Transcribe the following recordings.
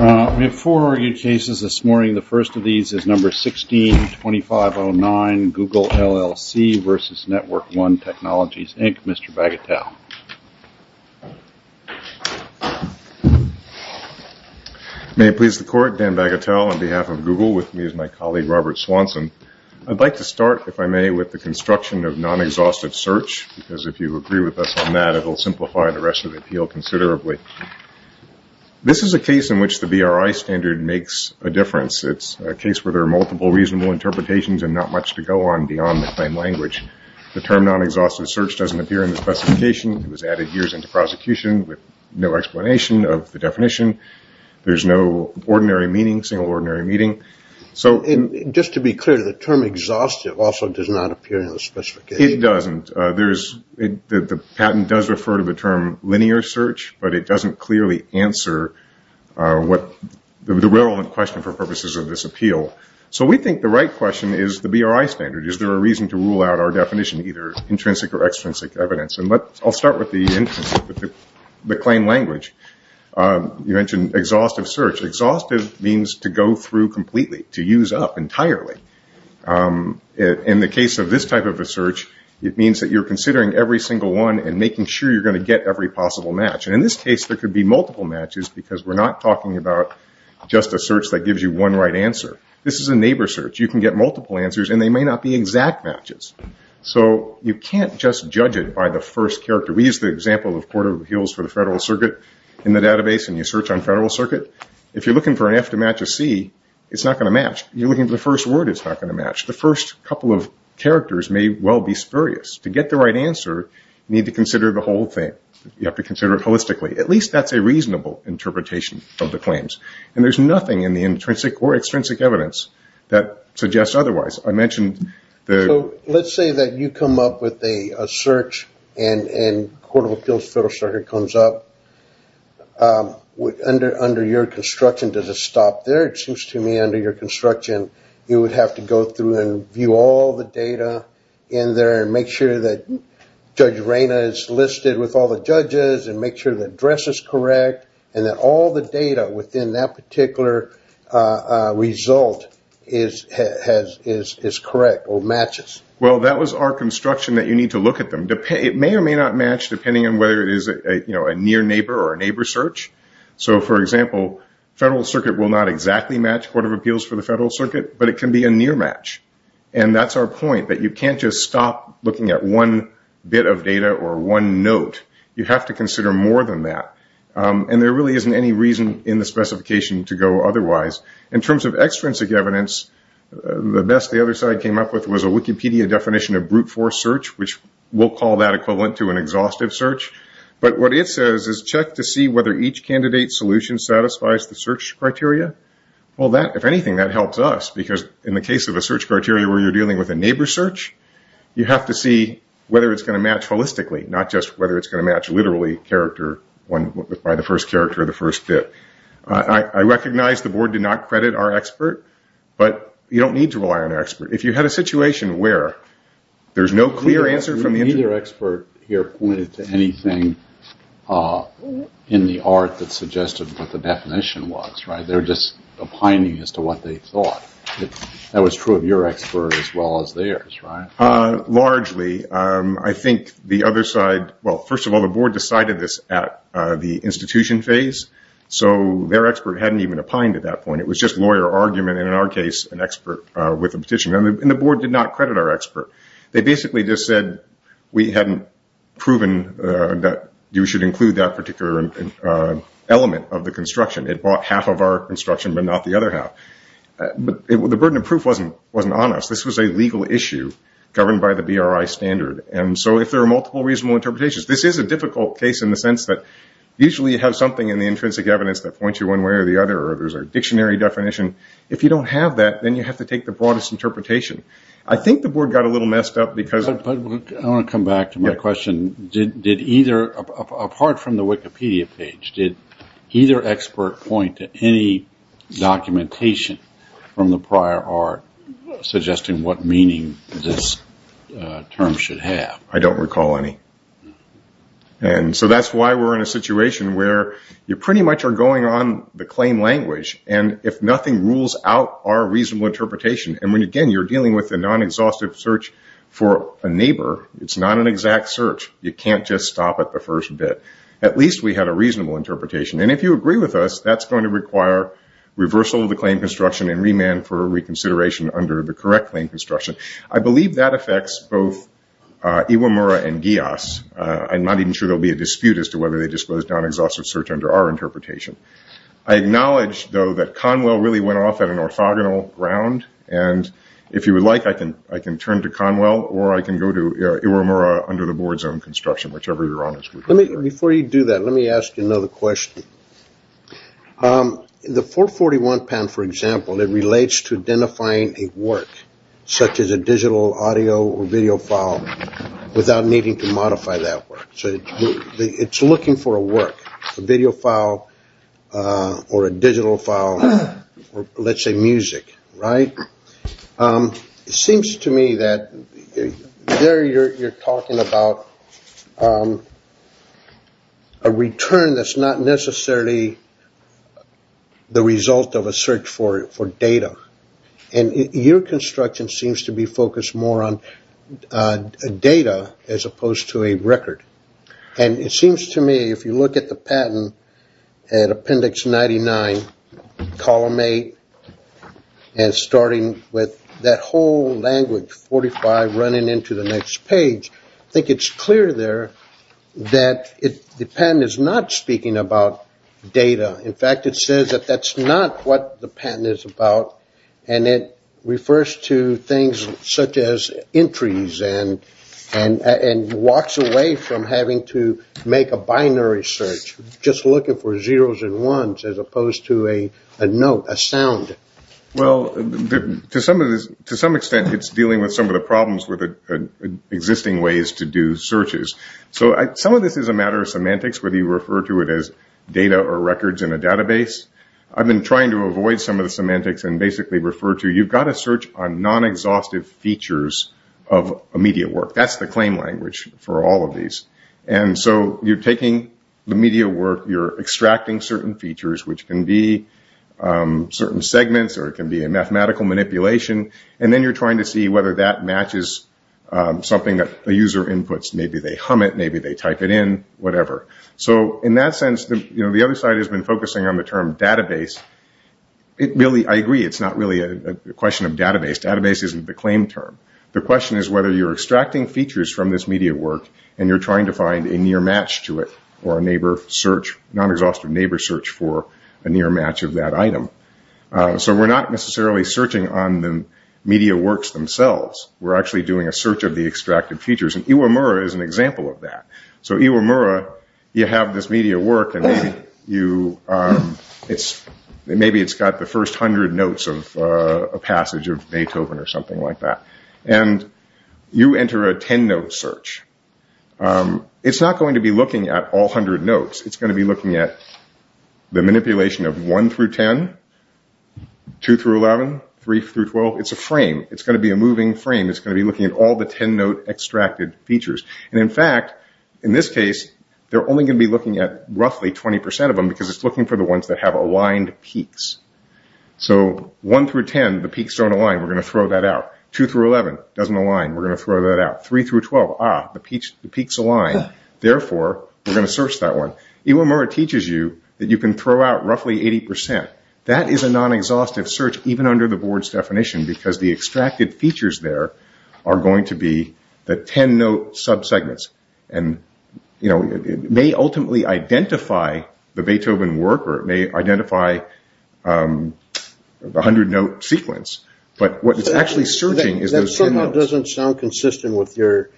May it please the Court, Dan Bagatelle on behalf of Google, with me is my colleague Robert Swanson. I'd like to start, if I may, with the construction of non-exhaustive search, because if you agree with us on that, it will simplify the rest of the appeal considerably. This is a case in which the BRI standard makes a difference. It's a case where there are multiple reasonable interpretations and not much to go on beyond the plain language. The term non-exhaustive search doesn't appear in the specification. It was added years into prosecution with no explanation of the definition. There's no ordinary meaning, single ordinary meaning. And just to be clear, the term exhaustive also does not appear in the specification? It doesn't. The patent does refer to the term linear search, but it doesn't clearly answer the relevant question for purposes of this appeal. So we think the right question is the BRI standard. Is there a reason to rule out our definition, either intrinsic or extrinsic evidence? I'll start with the claim language. You mentioned exhaustive search. Exhaustive means to go through completely, to use up entirely. In the case of this type of a search, it means that you're considering every single one and making sure you're going to get every possible match. In this case, there could be multiple matches, because we're not talking about just a search that gives you one right answer. This is a neighbor search. You can get multiple answers, and they may not be exact matches. So you can't just judge it by the first character. We used the example of Court of Appeals for the Federal Circuit in the database, and you it's not going to match. You're looking for the first word, it's not going to match. The first couple of characters may well be spurious. To get the right answer, you need to consider the whole thing. You have to consider it holistically. At least that's a reasonable interpretation of the claims, and there's nothing in the intrinsic or extrinsic evidence that suggests otherwise. I mentioned the... Let's say that you come up with a search, and Court of Appeals Federal Circuit comes up. Under your construction, does it stop there? It seems to me under your construction, you would have to go through and view all the data in there, and make sure that Judge Reyna is listed with all the judges, and make sure the address is correct, and that all the data within that particular result is correct or matches. Well that was our construction that you need to look at them. It may or may not match depending on whether it is a near neighbor or a neighbor search. For example, Federal Circuit will not exactly match Court of Appeals for the Federal Circuit, but it can be a near match. That's our point, that you can't just stop looking at one bit of data or one note. You have to consider more than that. There really isn't any reason in the specification to go otherwise. In terms of extrinsic evidence, the best the other side came up with was a Wikipedia definition of brute force search, which we'll call that equivalent to an exhaustive search. But what it says is, check to see whether each candidate's solution satisfies the search criteria. Well if anything, that helps us, because in the case of a search criteria where you're dealing with a neighbor search, you have to see whether it's going to match holistically, not just whether it's going to match literally by the first character or the first bit. I recognize the board did not credit our expert, but you don't need to rely on our expert. If you had a situation where there's no clear answer from the interviewee... Neither expert here pointed to anything in the art that suggested what the definition was, right? They're just opining as to what they thought. That was true of your expert as well as theirs, right? Largely. I think the other side, well, first of all, the board decided this at the institution phase, so their expert hadn't even opined at that point. It was just lawyer argument and in our case, an expert with a petition. The board did not credit our expert. They basically just said, we hadn't proven that you should include that particular element of the construction. It bought half of our construction but not the other half. The burden of proof wasn't on us. This was a legal issue governed by the BRI standard, and so if there are multiple reasonable interpretations... This is a difficult case in the sense that usually you have something in the intrinsic evidence that points you one way or the other, or there's a dictionary definition. If you don't have that, then you have to take the broadest interpretation. I think the board got a little messed up because... I want to come back to my question. Apart from the Wikipedia page, did either expert point to any documentation from the prior art suggesting what meaning this term should have? I don't recall any. That's why we're in a situation where you pretty much are going on the claim language, and if nothing rules out our reasonable interpretation, and again, you're dealing with a non-exhaustive search for a neighbor. It's not an exact search. You can't just stop at the first bit. At least we had a reasonable interpretation. If you agree with us, that's going to require reversal of the claim construction and remand for reconsideration under the correct claim construction. I believe that affects both Iwamura and Gios. I'm not even sure there'll be a dispute as to whether they disclosed non-exhaustive search under our interpretation. I acknowledge, though, that Conwell really went off at an orthogonal round, and if you would like, I can turn to Conwell, or I can go to Iwamura under the board's own construction, whichever you're on. Before you do that, let me ask you another question. The 441 pen, for example, it relates to identifying a work, such as a digital audio or video file, without needing to modify that work. It's looking for a work, a video file or a digital file, or let's say music. It seems to me that there you're talking about a return that's not necessarily the result of a search for data, and your construction seems to be focused more on data as opposed to a record. It seems to me, if you look at the patent at Appendix 99, Column 8, and starting with that whole language, 45 running into the next page, I think it's clear there that the patent is not speaking about data. In fact, it says that that's not what the patent is about, and it refers to things such as entries and walks away from having to make a binary search, just looking for zeros and ones as opposed to a note, a sound. Well, to some extent, it's dealing with some of the problems with existing ways to do searches. Some of this is a matter of semantics, whether you refer to it as data or records in a database. I've been trying to avoid some of the semantics and basically refer to it as, you've got to search on non-exhaustive features of a media work. That's the claim language for all of these. You're taking the media work, you're extracting certain features, which can be certain segments or it can be a mathematical manipulation, and then you're trying to see whether that matches something that the user inputs. Maybe they hum it, maybe they type it in, whatever. In that sense, the other side has been focusing on the term database. I agree, it's not really a question of database. Database isn't the claim term. The question is whether you're extracting features from this media work and you're trying to find a near match to it, or a non-exhaustive neighbor search for a near match of that item. We're not necessarily searching on the media works themselves. We're actually doing a search of the extracted features, and Iwamura is an example of that. Iwamura, you have this media work, and maybe it's got the first 100 notes of a passage of Beethoven or something like that. You enter a 10-note search. It's not going to be looking at all 100 notes. It's going to be looking at the manipulation of 1 through 10, 2 through 11, 3 through 12. It's a frame. It's going to be a moving frame. It's going to be looking at all the 10-note extracted features. In fact, in this case, they're only going to be looking at roughly 20% of them because it's looking for the ones that have aligned peaks. So 1 through 10, the peaks don't align. We're going to throw that out. 2 through 11, it doesn't align. We're going to throw that out. 3 through 12, ah, the peaks align. Therefore, we're going to search that one. Iwamura teaches you that you can throw out roughly 80%. That is a non-exhaustive search, even under the board's definition, because the extracted the 10-note sub-segments. It may ultimately identify the Beethoven work or it may identify the 100-note sequence, but what it's actually searching is those 10 notes. That somehow doesn't sound consistent with your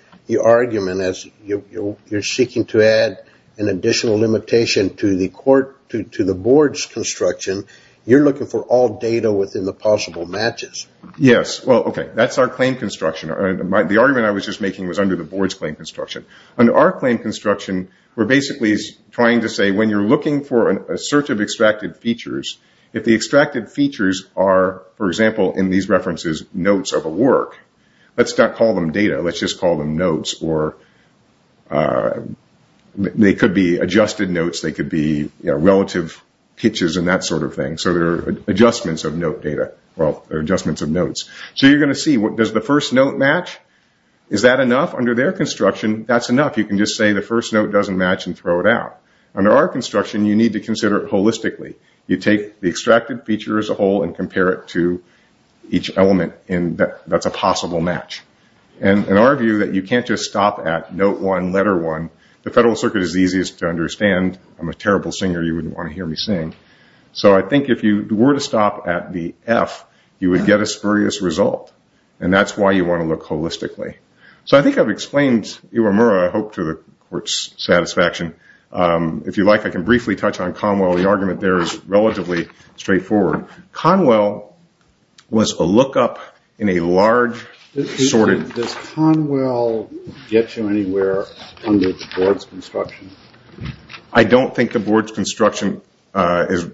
argument as you're seeking to add an additional limitation to the board's construction. You're looking for all data within the possible matches. Yes. Well, okay. That's our claim construction. The argument I was just making was under the board's claim construction. Under our claim construction, we're basically trying to say when you're looking for a search of extracted features, if the extracted features are, for example, in these references, notes of a work, let's not call them data. Let's just call them notes. They could be adjusted notes. They could be relative pitches and that sort of thing. So they're adjustments of note data, or adjustments of notes. So you're going to see, does the first note match? Is that enough? Under their construction, that's enough. You can just say the first note doesn't match and throw it out. Under our construction, you need to consider it holistically. You take the extracted feature as a whole and compare it to each element. That's a possible match. In our view, you can't just stop at note one, letter one. The Federal Circuit is the easiest to understand. I'm a terrible singer. You wouldn't want to hear me sing. So I think if you were to stop at the F, you would get a spurious result. And that's why you want to look holistically. So I think I've explained Iwamura, I hope, to the Court's satisfaction. If you like, I can briefly touch on Conwell. The argument there is relatively straightforward. Conwell was a lookup in a large, sorted... Does Conwell get you anywhere under the Board's construction? I don't think the Board's construction is...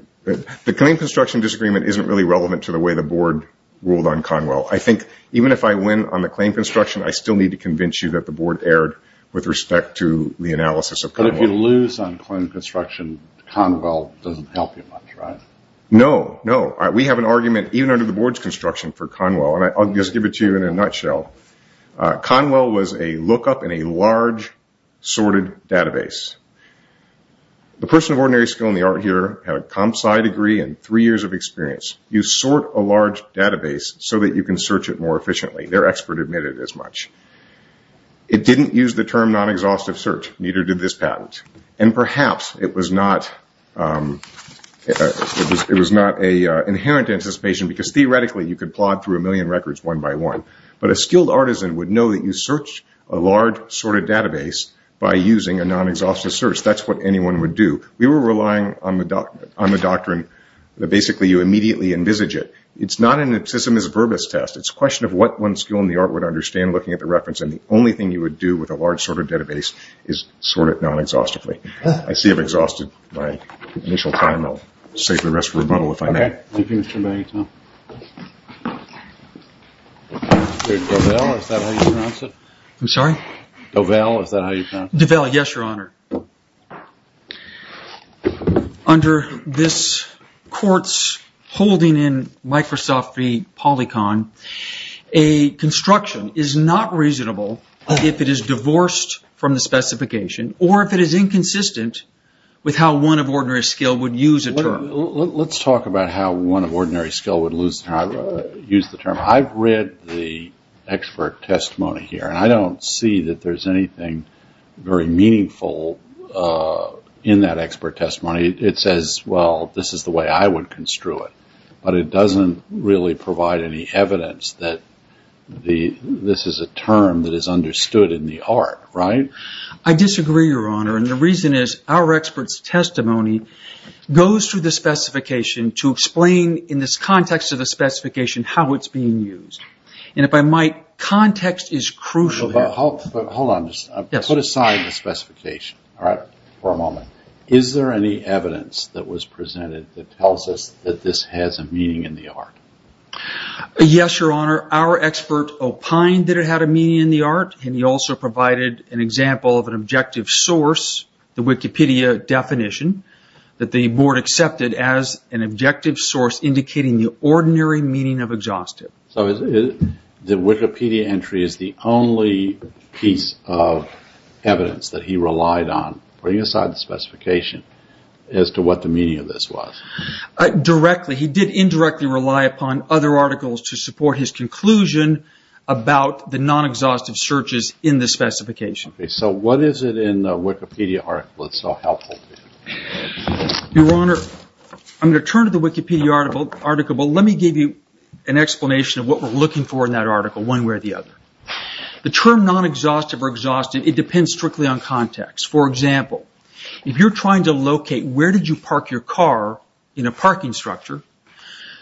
The Claim Construction Disagreement isn't really relevant to the way the Board ruled on Conwell. I think even if I win on the Claim Construction, I still need to convince you that the Board erred with respect to the analysis of Conwell. But if you lose on Claim Construction, Conwell doesn't help you much, right? No. We have an argument even under the Board's construction for Conwell. I'll just give it to you in a nutshell. Conwell was a lookup in a large, sorted database. The person of ordinary skill in the art here had a comp sci degree and three years of experience. You sort a large database so that you can search it more efficiently. Their expert admitted as much. It didn't use the term non-exhaustive search. Neither did this patent. And perhaps it was not an inherent anticipation because theoretically you could plod through a million records one by one. But a skilled artisan would know that you search a large, sorted database by using a non-exhaustive search. That's what anyone would do. We were relying on the doctrine that basically you immediately envisage it. It's not an abscissimis verbis test. It's a question of what one skill in the art would understand looking at the reference. And the only thing you would do with a large, sorted database is sort it non-exhaustively. I see I've exhausted my initial time. I'll save the rest for rebuttal if I may. Thank you, Mr. Magneton. Dovelle, is that how you pronounce it? I'm sorry? Dovelle, is that how you pronounce it? Dovelle, yes, your honor. Under this court's holding in Microsoft v. Polycon, a construction is not reasonable if it is divorced from the specification or if it is inconsistent with how one of ordinary skill would use a term. Let's talk about how one of ordinary skill would use the term. I've read the expert testimony here, and I don't see that there's anything very meaningful in that expert testimony. It says, well, this is the way I would construe it, but it doesn't really provide any evidence that this is a term that is understood in the art, right? I disagree, your honor, and the reason is our expert's testimony goes through the specification to explain in this context of the specification how it's being used. If I might, context is crucial here. Hold on. Put aside the specification for a moment. Is there any evidence that was presented that tells us that this has a meaning in the art? Yes, your honor. Our expert opined that it had a meaning in the art, and he also provided an example of an objective source, the Wikipedia definition, that the board accepted as an objective source indicating the ordinary meaning of exhaustive. The Wikipedia entry is the only piece of evidence that he relied on. Put aside the specification as to what the meaning of this was. Directly. He did indirectly rely upon other articles to support his conclusion about the non-exhaustive searches in the specification. Okay, so what is it in the Wikipedia article that's so helpful to you? Your honor, I'm going to turn to the Wikipedia article, but let me give you an explanation of what we're looking for in that article one way or the other. The term non-exhaustive or exhausted, it depends strictly on context. For example, if you're trying to locate where did you park your car in a parking structure,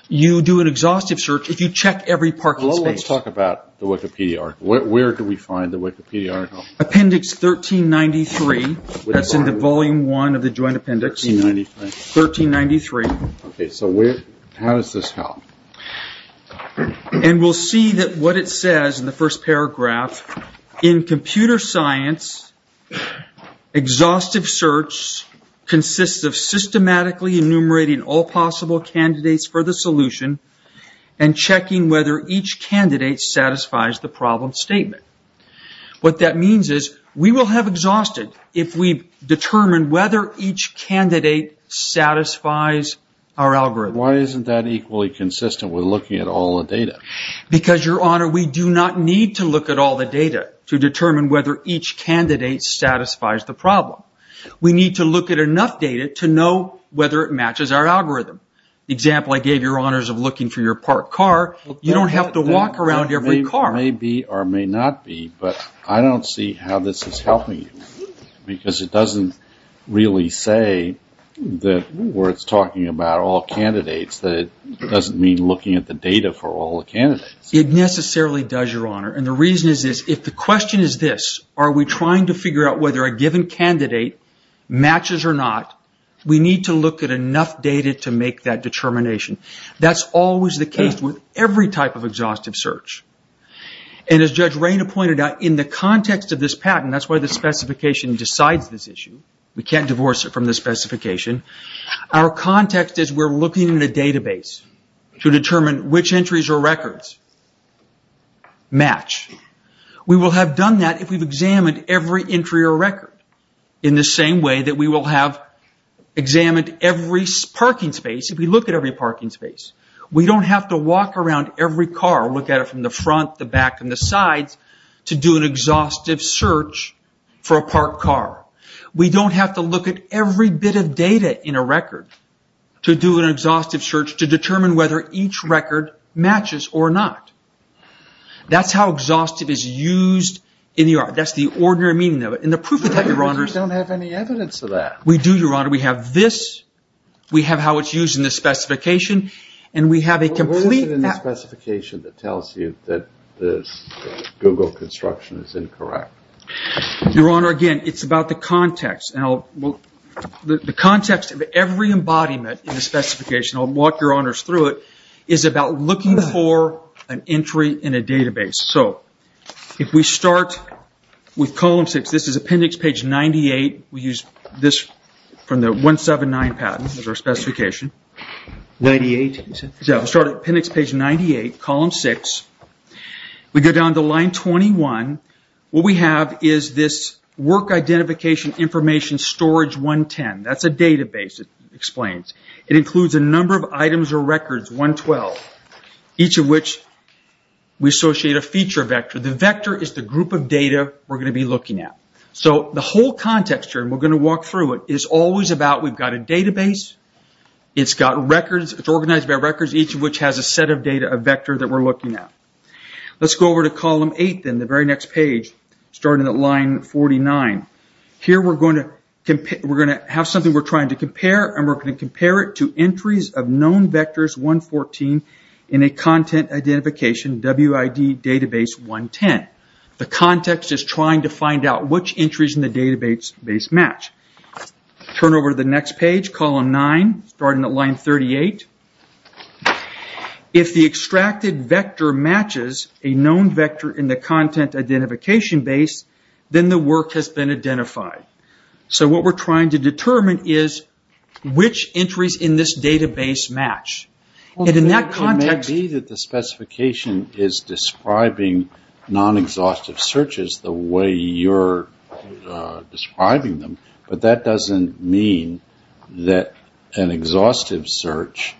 you do an exhaustive search. If you check every parking space. Let's talk about the Wikipedia article. Where do we find the Wikipedia article? Appendix 1393. That's in the volume one of the joint appendix. 1393. 1393. Okay, so how does this help? And we'll see that what it says in the first paragraph, in computer science, exhaustive search consists of systematically enumerating all possible candidates for the solution and checking whether each candidate satisfies the problem statement. What that means is we will have exhausted if we determine whether each candidate satisfies our algorithm. Why isn't that equally consistent with looking at all the data? Because your honor, we do not need to look at all the data to determine whether each candidate satisfies the problem. We need to look at enough data to know whether it matches our algorithm. The example I gave your honors of looking for your parked car, you don't have to walk around every car. It may be or may not be, but I don't see how this is helping you. Because it doesn't really say that where it's talking about all candidates, that it doesn't mean looking at the data for all the candidates. It necessarily does, your honor. And the reason is this. If the question is this, are we trying to figure out whether a given candidate matches or not, we need to look at enough data to make that determination. That's always the case with every type of exhaustive search. And as Judge Raina pointed out, in the context of this patent, that's why the specification decides this issue. We can't divorce it from the specification. Our context is we're looking at a database to determine which entries or records match. We will have done that if we've examined every entry or record in the same way that we will have examined every parking space, if we look at every parking space. We don't have to walk around every car, look at it from the front, the back, and the sides to do an exhaustive search for a parked car. We don't have to look at every bit of data in a record to do an exhaustive search to determine whether each record matches or not. That's how exhaustive is used in the art. That's the ordinary meaning of it. And the proof of that, Your Honor... We don't have any evidence of that. We do, Your Honor. We have this. We have how it's used in the specification. And we have a complete... What is it in the specification that tells you that this Google construction is incorrect? Your Honor, again, it's about the context. The context of every embodiment in the specification, I'll walk Your Honors through it, is about looking for an entry in a database. So, if we start with column 6, this is appendix page 98, we use this from the 179 patent as our specification. 98? We start at appendix page 98, column 6, we go down to line 21, what we have is this work identification information storage 110. That's a database, it explains. It includes a number of items or records, 112, each of which we associate a feature vector. The vector is the group of data we're going to be looking at. So, the whole context here, and we're going to walk through it, is always about we've got a database, it's got records, it's organized by records, each of which has a set of data, a vector that we're looking at. Let's go over to column 8 then, the very next page, starting at line 49. Here we're going to have something we're trying to compare, and we're going to compare it to entries of known vectors 114 in a content identification WID database 110. The context is trying to find out which entries in the database match. Turn over to the next page, column 9, starting at line 38. If the extracted vector matches a known vector in the content identification base, then the work has been identified. So what we're trying to determine is which entries in this database match. In that context... It may be that the specification is describing non-exhaustive searches the way you're describing them, but that doesn't mean that an exhaustive search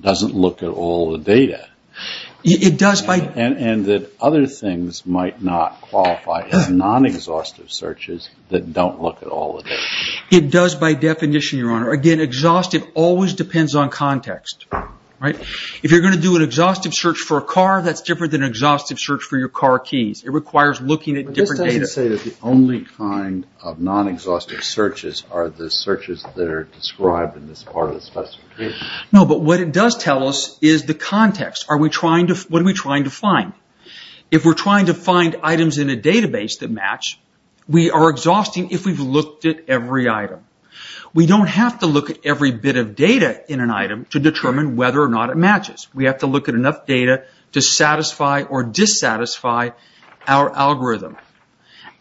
doesn't look at all the data. It does by... And that other things might not qualify as non-exhaustive searches that don't look at all the data. It does by definition, Your Honor. Again, exhaustive always depends on context. If you're going to do an exhaustive search for a car, that's different than an exhaustive search for your car keys. It requires looking at different data. But this doesn't say that the only kind of non-exhaustive searches are the searches that are described in this part of the specification. No, but what it does tell us is the context. Are we trying to... What are we trying to find? If we're trying to find items in a database that match, we are exhausting if we've looked at every item. We don't have to look at every bit of data in an item to determine whether or not it matches. We have to look at enough data to satisfy or dissatisfy our algorithm.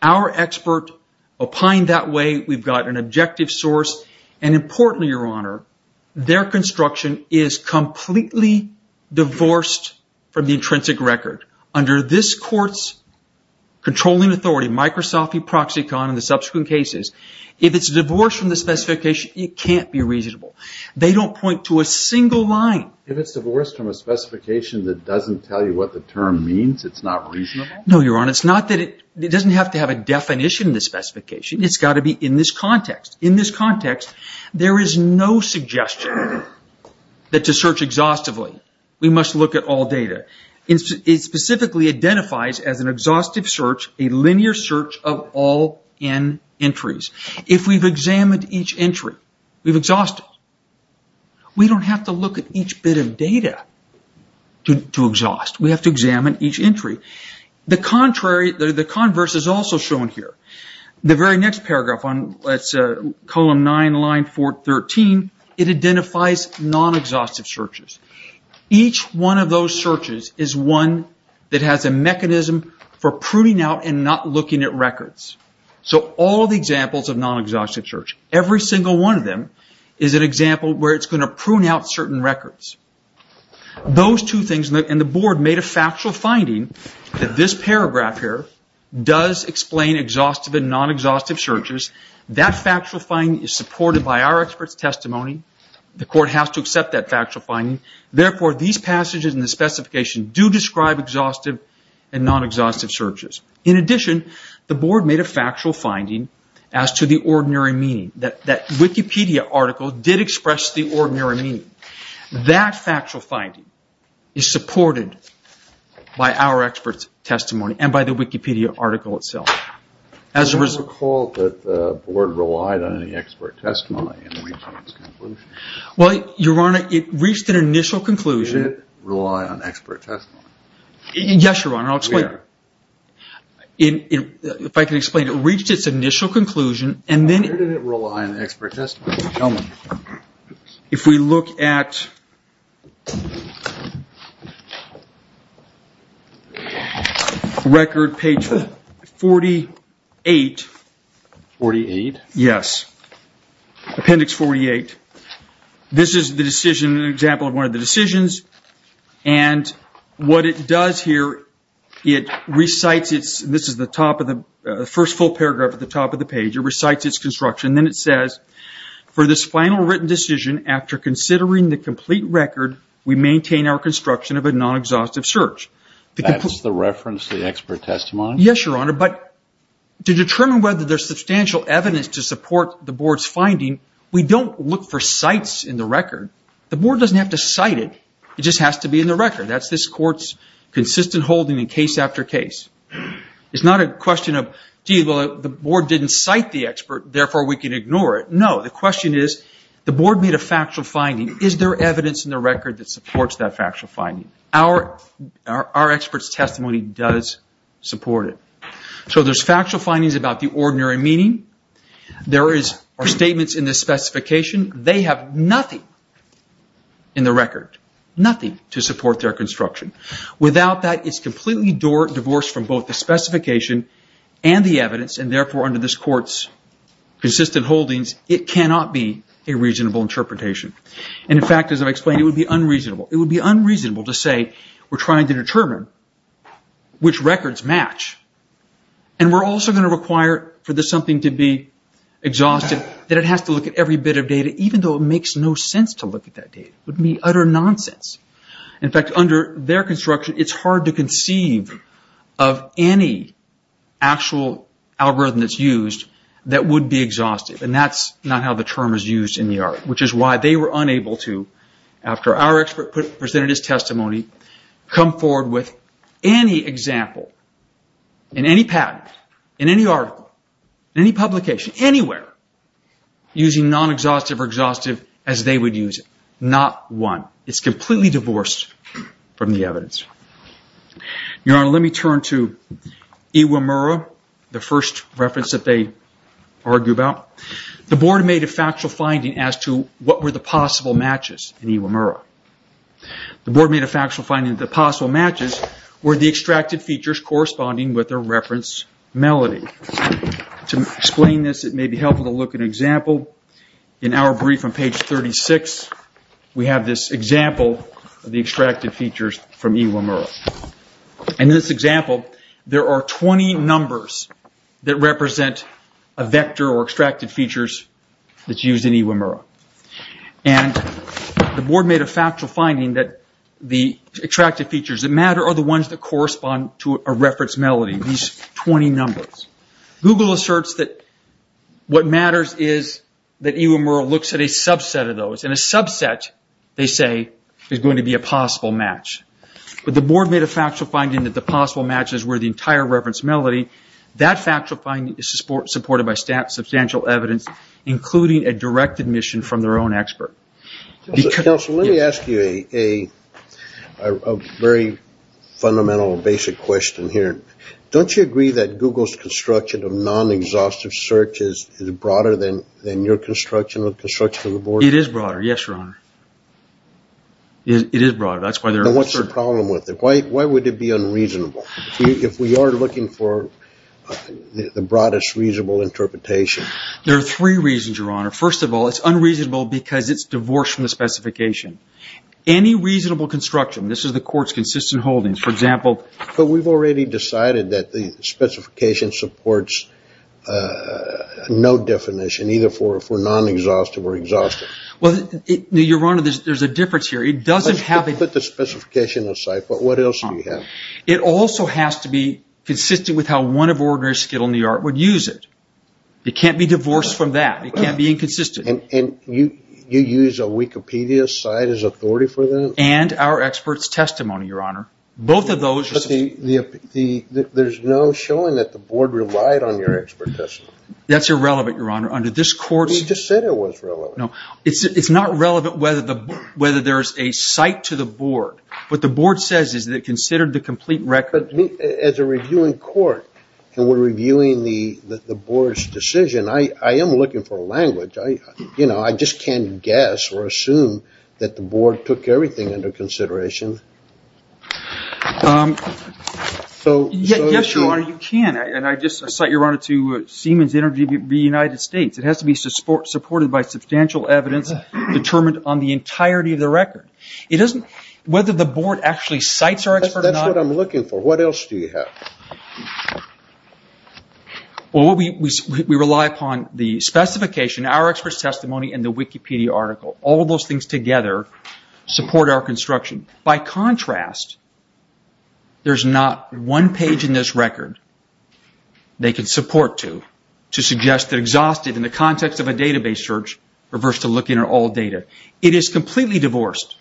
Our expert opined that way. We've got an objective source. And importantly, Your Honor, their construction is completely divorced from the intrinsic record. Under this court's controlling authority, Microsoft, Eproxycon, and the subsequent cases, if it's divorced from the specification, it can't be reasonable. They don't point to a single line. If it's divorced from a specification that doesn't tell you what the term means, it's not reasonable? No, Your Honor. It's not that it... It doesn't have to have a definition in the specification. It's got to be in this context. In this context, there is no suggestion that to search exhaustively, we must look at all data. It specifically identifies as an exhaustive search a linear search of all N entries. If we've examined each entry, we've exhausted. We don't have to look at each bit of data to exhaust. We have to examine each entry. The contrary, the converse is also shown here. The very next paragraph, column 9, line 413, it identifies non-exhaustive searches. Each one of those searches is one that has a mechanism for pruning out and not looking at records. All the examples of non-exhaustive search, every single one of them is an example where it's going to prune out certain records. Those two things, and the board made a factual finding that this paragraph here does explain exhaustive and non-exhaustive searches. That factual finding is supported by our expert's testimony. The court has to accept that factual finding. Therefore, these passages in the specification do describe exhaustive and non-exhaustive searches. In addition, the board made a factual finding as to the ordinary meaning. That Wikipedia article did express the ordinary meaning. That factual finding is supported by our expert's testimony and by the Wikipedia article itself. I don't recall that the board relied on any expert's testimony in reaching its conclusion. Your Honor, it reached an initial conclusion. Did it rely on expert's testimony? Yes, Your Honor. I'll explain. We are. If I can explain, it reached its initial conclusion, and then... Where did it rely on expert's testimony? If we look at record page 48, Appendix 48, this is an example of one of the decisions. What it does here, it recites its... This is the first full paragraph at the top of the page. It recites its construction. Then it says, for this final written decision, after considering the complete record, we maintain our construction of a non-exhaustive search. That's the reference, the expert testimony? Yes, Your Honor. To determine whether there's substantial evidence to support the board's finding, we don't look for cites in the record. The board doesn't have to cite it, it just has to be in the record. That's this court's consistent holding in case after case. It's not a question of, gee, the board didn't cite the expert, therefore we can ignore it. No, the question is, the board made a factual finding. Is there evidence in the record that supports that factual finding? Our expert's testimony does support it. There's factual findings about the ordinary meeting. There is statements in the specification. They have nothing in the record, nothing to support their construction. Without that, it's completely divorced from both the specification and the evidence, and therefore under this court's consistent holdings, it cannot be a reasonable interpretation. In fact, as I've explained, it would be unreasonable to say we're trying to determine which records match and we're also going to require for this something to be exhaustive, that it has to look at every bit of data, even though it makes no sense to look at that data. It would be utter nonsense. In fact, under their construction, it's hard to conceive of any actual algorithm that's used that would be exhaustive, and that's not how the term is used in the article, which is why they were unable to, after our expert presented his testimony, come forward with any example in any patent, in any article, in any publication, anywhere, using non-exhaustive or exhaustive as they would use it. Not one. It's completely divorced from the evidence. Your Honor, let me turn to Iwamura, the first reference that they argue about. The board made a factual finding as to what were the possible matches in Iwamura. The board made a factual finding that the possible matches were the extracted features corresponding with the reference melody. To explain this, it may be helpful to look at an example. In our brief on page 36, we have this example of the extracted features from Iwamura. In this example, there are 20 numbers that represent a vector or extracted features that's used in Iwamura. The board made a factual finding that the extracted features that matter are the ones that correspond to a reference melody, these 20 numbers. Google asserts that what matters is that Iwamura looks at a subset of those. A subset, they say, is going to be a possible match. The board made a factual finding that the possible matches were the entire reference melody. That factual finding is supported by substantial evidence, including a direct admission from their own expert. Counsel, let me ask you a very fundamental, basic question here. Don't you agree that Google's construction of non-exhaustive searches is broader than your construction of construction of the board? It is broader, yes, your honor. It is broader, that's why they're... Then what's the problem with it? Why would it be unreasonable if we are looking for the broadest reasonable interpretation? There are three reasons, your honor. First of all, it's unreasonable because it's divorced from the specification. Any reasonable construction, this is the court's consistent holdings, for example... But we've already decided that the specification supports no definition, either for non-exhaustive or exhaustive. Well, your honor, there's a difference here. It doesn't have... Let's put the specification aside, but what else do you have? It also has to be consistent with how one of ordinary skill in the art would use it. It can't be divorced from that, it can't be inconsistent. You use a Wikipedia site as authority for that? And our expert's testimony, your honor. Both of those... But there's no showing that the board relied on your expert testimony. That's irrelevant, your honor. Under this court's... You just said it was relevant. No. It's not relevant whether there's a site to the board. What the board says is that it considered the complete record... But as a reviewing court, and we're reviewing the board's decision, I am looking for a language. I just can't guess or assume that the board took everything under consideration. Yes, your honor, you can. And I just cite your honor to Siemens Energy of the United States. It has to be supported by substantial evidence determined on the entirety of the record. It doesn't... Whether the board actually cites our expert or not... That's what I'm looking for. What else do you have? Well, we rely upon the specification. Our expert's testimony and the Wikipedia article. All of those things together support our construction. By contrast, there's not one page in this record they can support to, to suggest that exhausted in the context of a database search, reversed to looking at all data. It is completely divorced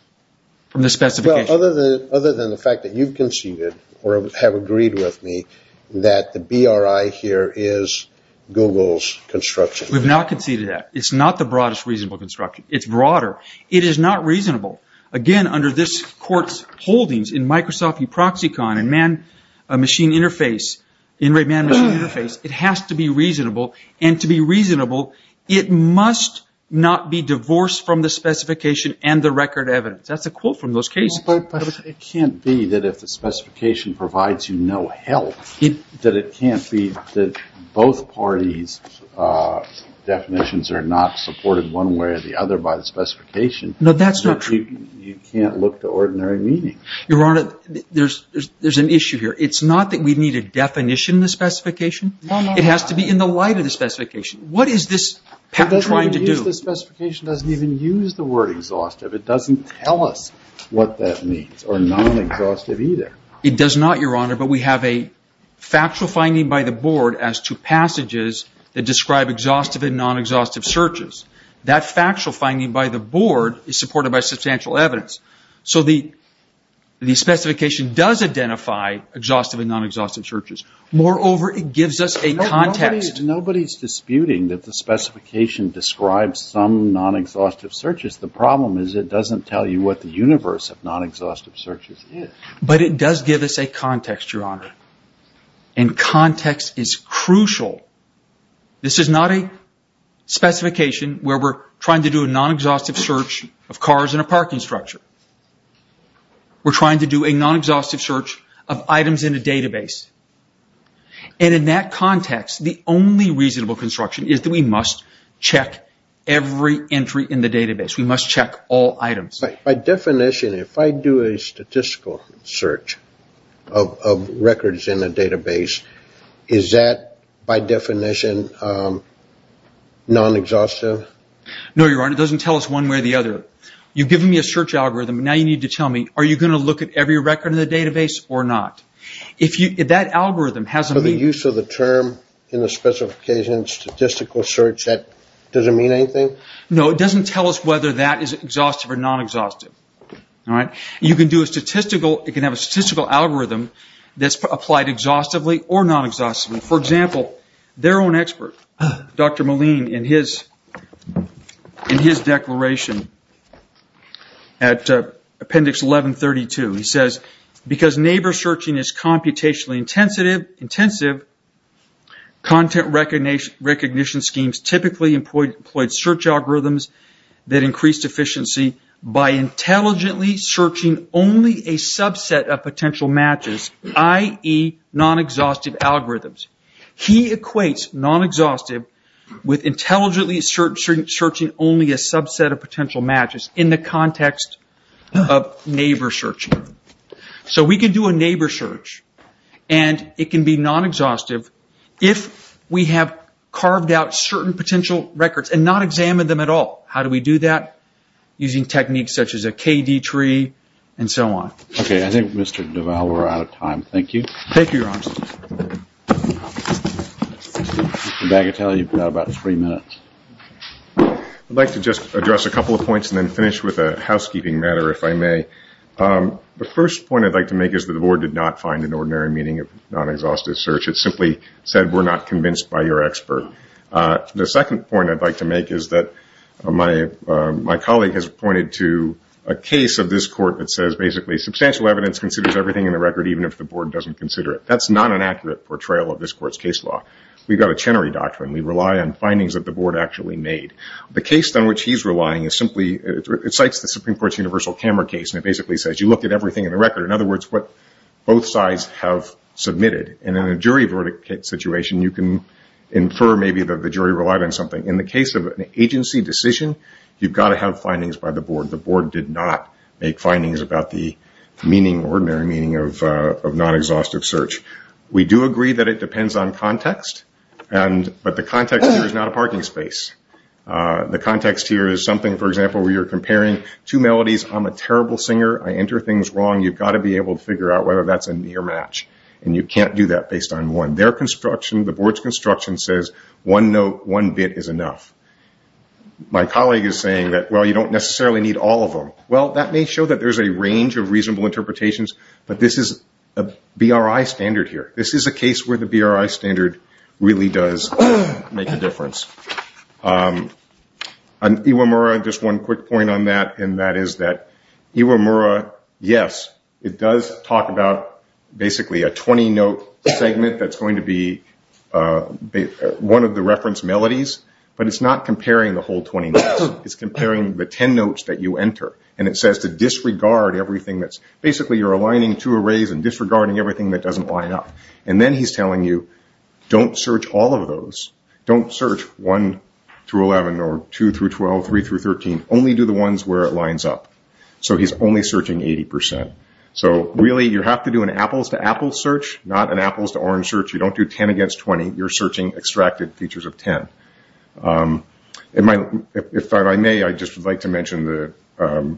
from the specification. Well, other than the fact that you've conceded, or have agreed with me, that the BRI here is Google's construction. We've not conceded that. It's not the broadest reasonable construction. It's broader. It is not reasonable. Again, under this court's holdings in Microsoft E-Proxicon and Man-Machine Interface, it has to be reasonable. And to be reasonable, it must not be divorced from the specification and the record evidence. That's a quote from those cases. But it can't be that if the specification provides you no help, that it can't be that both parties' definitions are not supported one way or the other by the specification. No, that's not true. You can't look to ordinary meaning. Your Honor, there's, there's, there's an issue here. It's not that we need a definition in the specification. It has to be in the light of the specification. What is this trying to do? It doesn't even use the specification, doesn't even use the word exhaustive. It doesn't tell us what that means, or non-exhaustive either. It does not, Your Honor. But we have a factual finding by the board as to passages that describe exhaustive and non-exhaustive searches. That factual finding by the board is supported by substantial evidence. So the, the specification does identify exhaustive and non-exhaustive searches. Moreover, it gives us a context. Nobody's disputing that the specification describes some non-exhaustive searches. The problem is it doesn't tell you what the universe of non-exhaustive searches is. But it does give us a context, Your Honor. And context is crucial. This is not a specification where we're trying to do a non-exhaustive search of cars in a parking structure. We're trying to do a non-exhaustive search of items in a database. And in that context, the only reasonable construction is that we must check every entry in the database. We must check all items. By definition, if I do a statistical search of, of records in a database, is that, by definition, non-exhaustive? No, Your Honor. It doesn't tell us one way or the other. You've given me a search algorithm. Now you need to tell me, are you going to look at every record in the database or not? If you, if that algorithm has a meaning. So the use of the term in the specification, statistical search, that doesn't mean anything? No, it doesn't tell us whether that is exhaustive or non-exhaustive. You can do a statistical, you can have a statistical algorithm that's applied exhaustively or non-exhaustively. For example, their own expert, Dr. Moline, in his declaration at Appendix 1132, he says, because neighbor searching is computationally intensive, content recognition schemes typically employed search algorithms that increase efficiency by intelligently searching only a subset of potential matches, i.e. non-exhaustive algorithms. He equates non-exhaustive with intelligently searching only a subset of potential matches in the context of neighbor searching. So we can do a neighbor search and it can be non-exhaustive if we have carved out certain potential records and not examined them at all. How do we do that? Using techniques such as a KD tree and so on. Okay, I think Mr. Duvall, we're out of time, thank you. I'd like to just address a couple of points and then finish with a housekeeping matter if I may. The first point I'd like to make is that the board did not find an ordinary meaning of non-exhaustive search. It simply said we're not convinced by your expert. The second point I'd like to make is that my colleague has pointed to a case of this court that says basically substantial evidence considers everything in the record even if the board doesn't consider it. That's not an accurate portrayal of this court's case law. We've got a Chenery Doctrine. We rely on findings that the board actually made. The case on which he's relying is simply, it cites the Supreme Court's universal camera case and it basically says you look at everything in the record, in other words, what both sides have submitted. In a jury verdict situation, you can infer maybe that the jury relied on something. In the case of an agency decision, you've got to have findings by the board. The board did not make findings about the ordinary meaning of non-exhaustive search. We do agree that it depends on context, but the context here is not a parking space. The context here is something, for example, where you're comparing two melodies, I'm a terrible singer, I enter things wrong, you've got to be able to figure out whether that's a near match. You can't do that based on one. The board's construction says one note, one bit is enough. My colleague is saying that you don't necessarily need all of them. That may show that there's a range of reasonable interpretations, but this is a BRI standard here. On Iwamura, just one quick point on that, and that is that Iwamura, yes, it does talk about basically a 20-note segment that's going to be one of the reference melodies, but it's not comparing the whole 20 notes. It's comparing the 10 notes that you enter. It says to disregard everything that's, basically you're aligning two arrays and disregarding everything that doesn't line up. Then he's telling you don't search all of those. Don't search 1-11 or 2-12, 3-13, only do the ones where it lines up. He's only searching 80%. Really you have to do an apples-to-apples search, not an apples-to-orange search. You don't do 10 against 20. You're searching extracted features of 10. If I may, I'd just like to mention the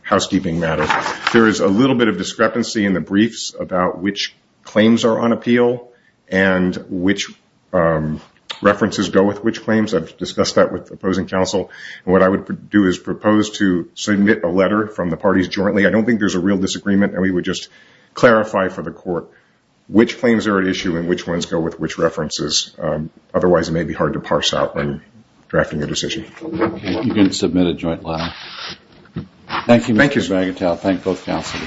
housekeeping matter. There is a little bit of discrepancy in the briefs about which claims are on appeal and which references go with which claims. I've discussed that with opposing counsel. What I would do is propose to submit a letter from the parties jointly. I don't think there's a real disagreement. We would just clarify for the court which claims are at issue and which ones go with which references. Otherwise, it may be hard to parse out when drafting a decision. Okay. You can submit a joint letter. Thank you, Mr. Bagatelle. Thank you. Thank you.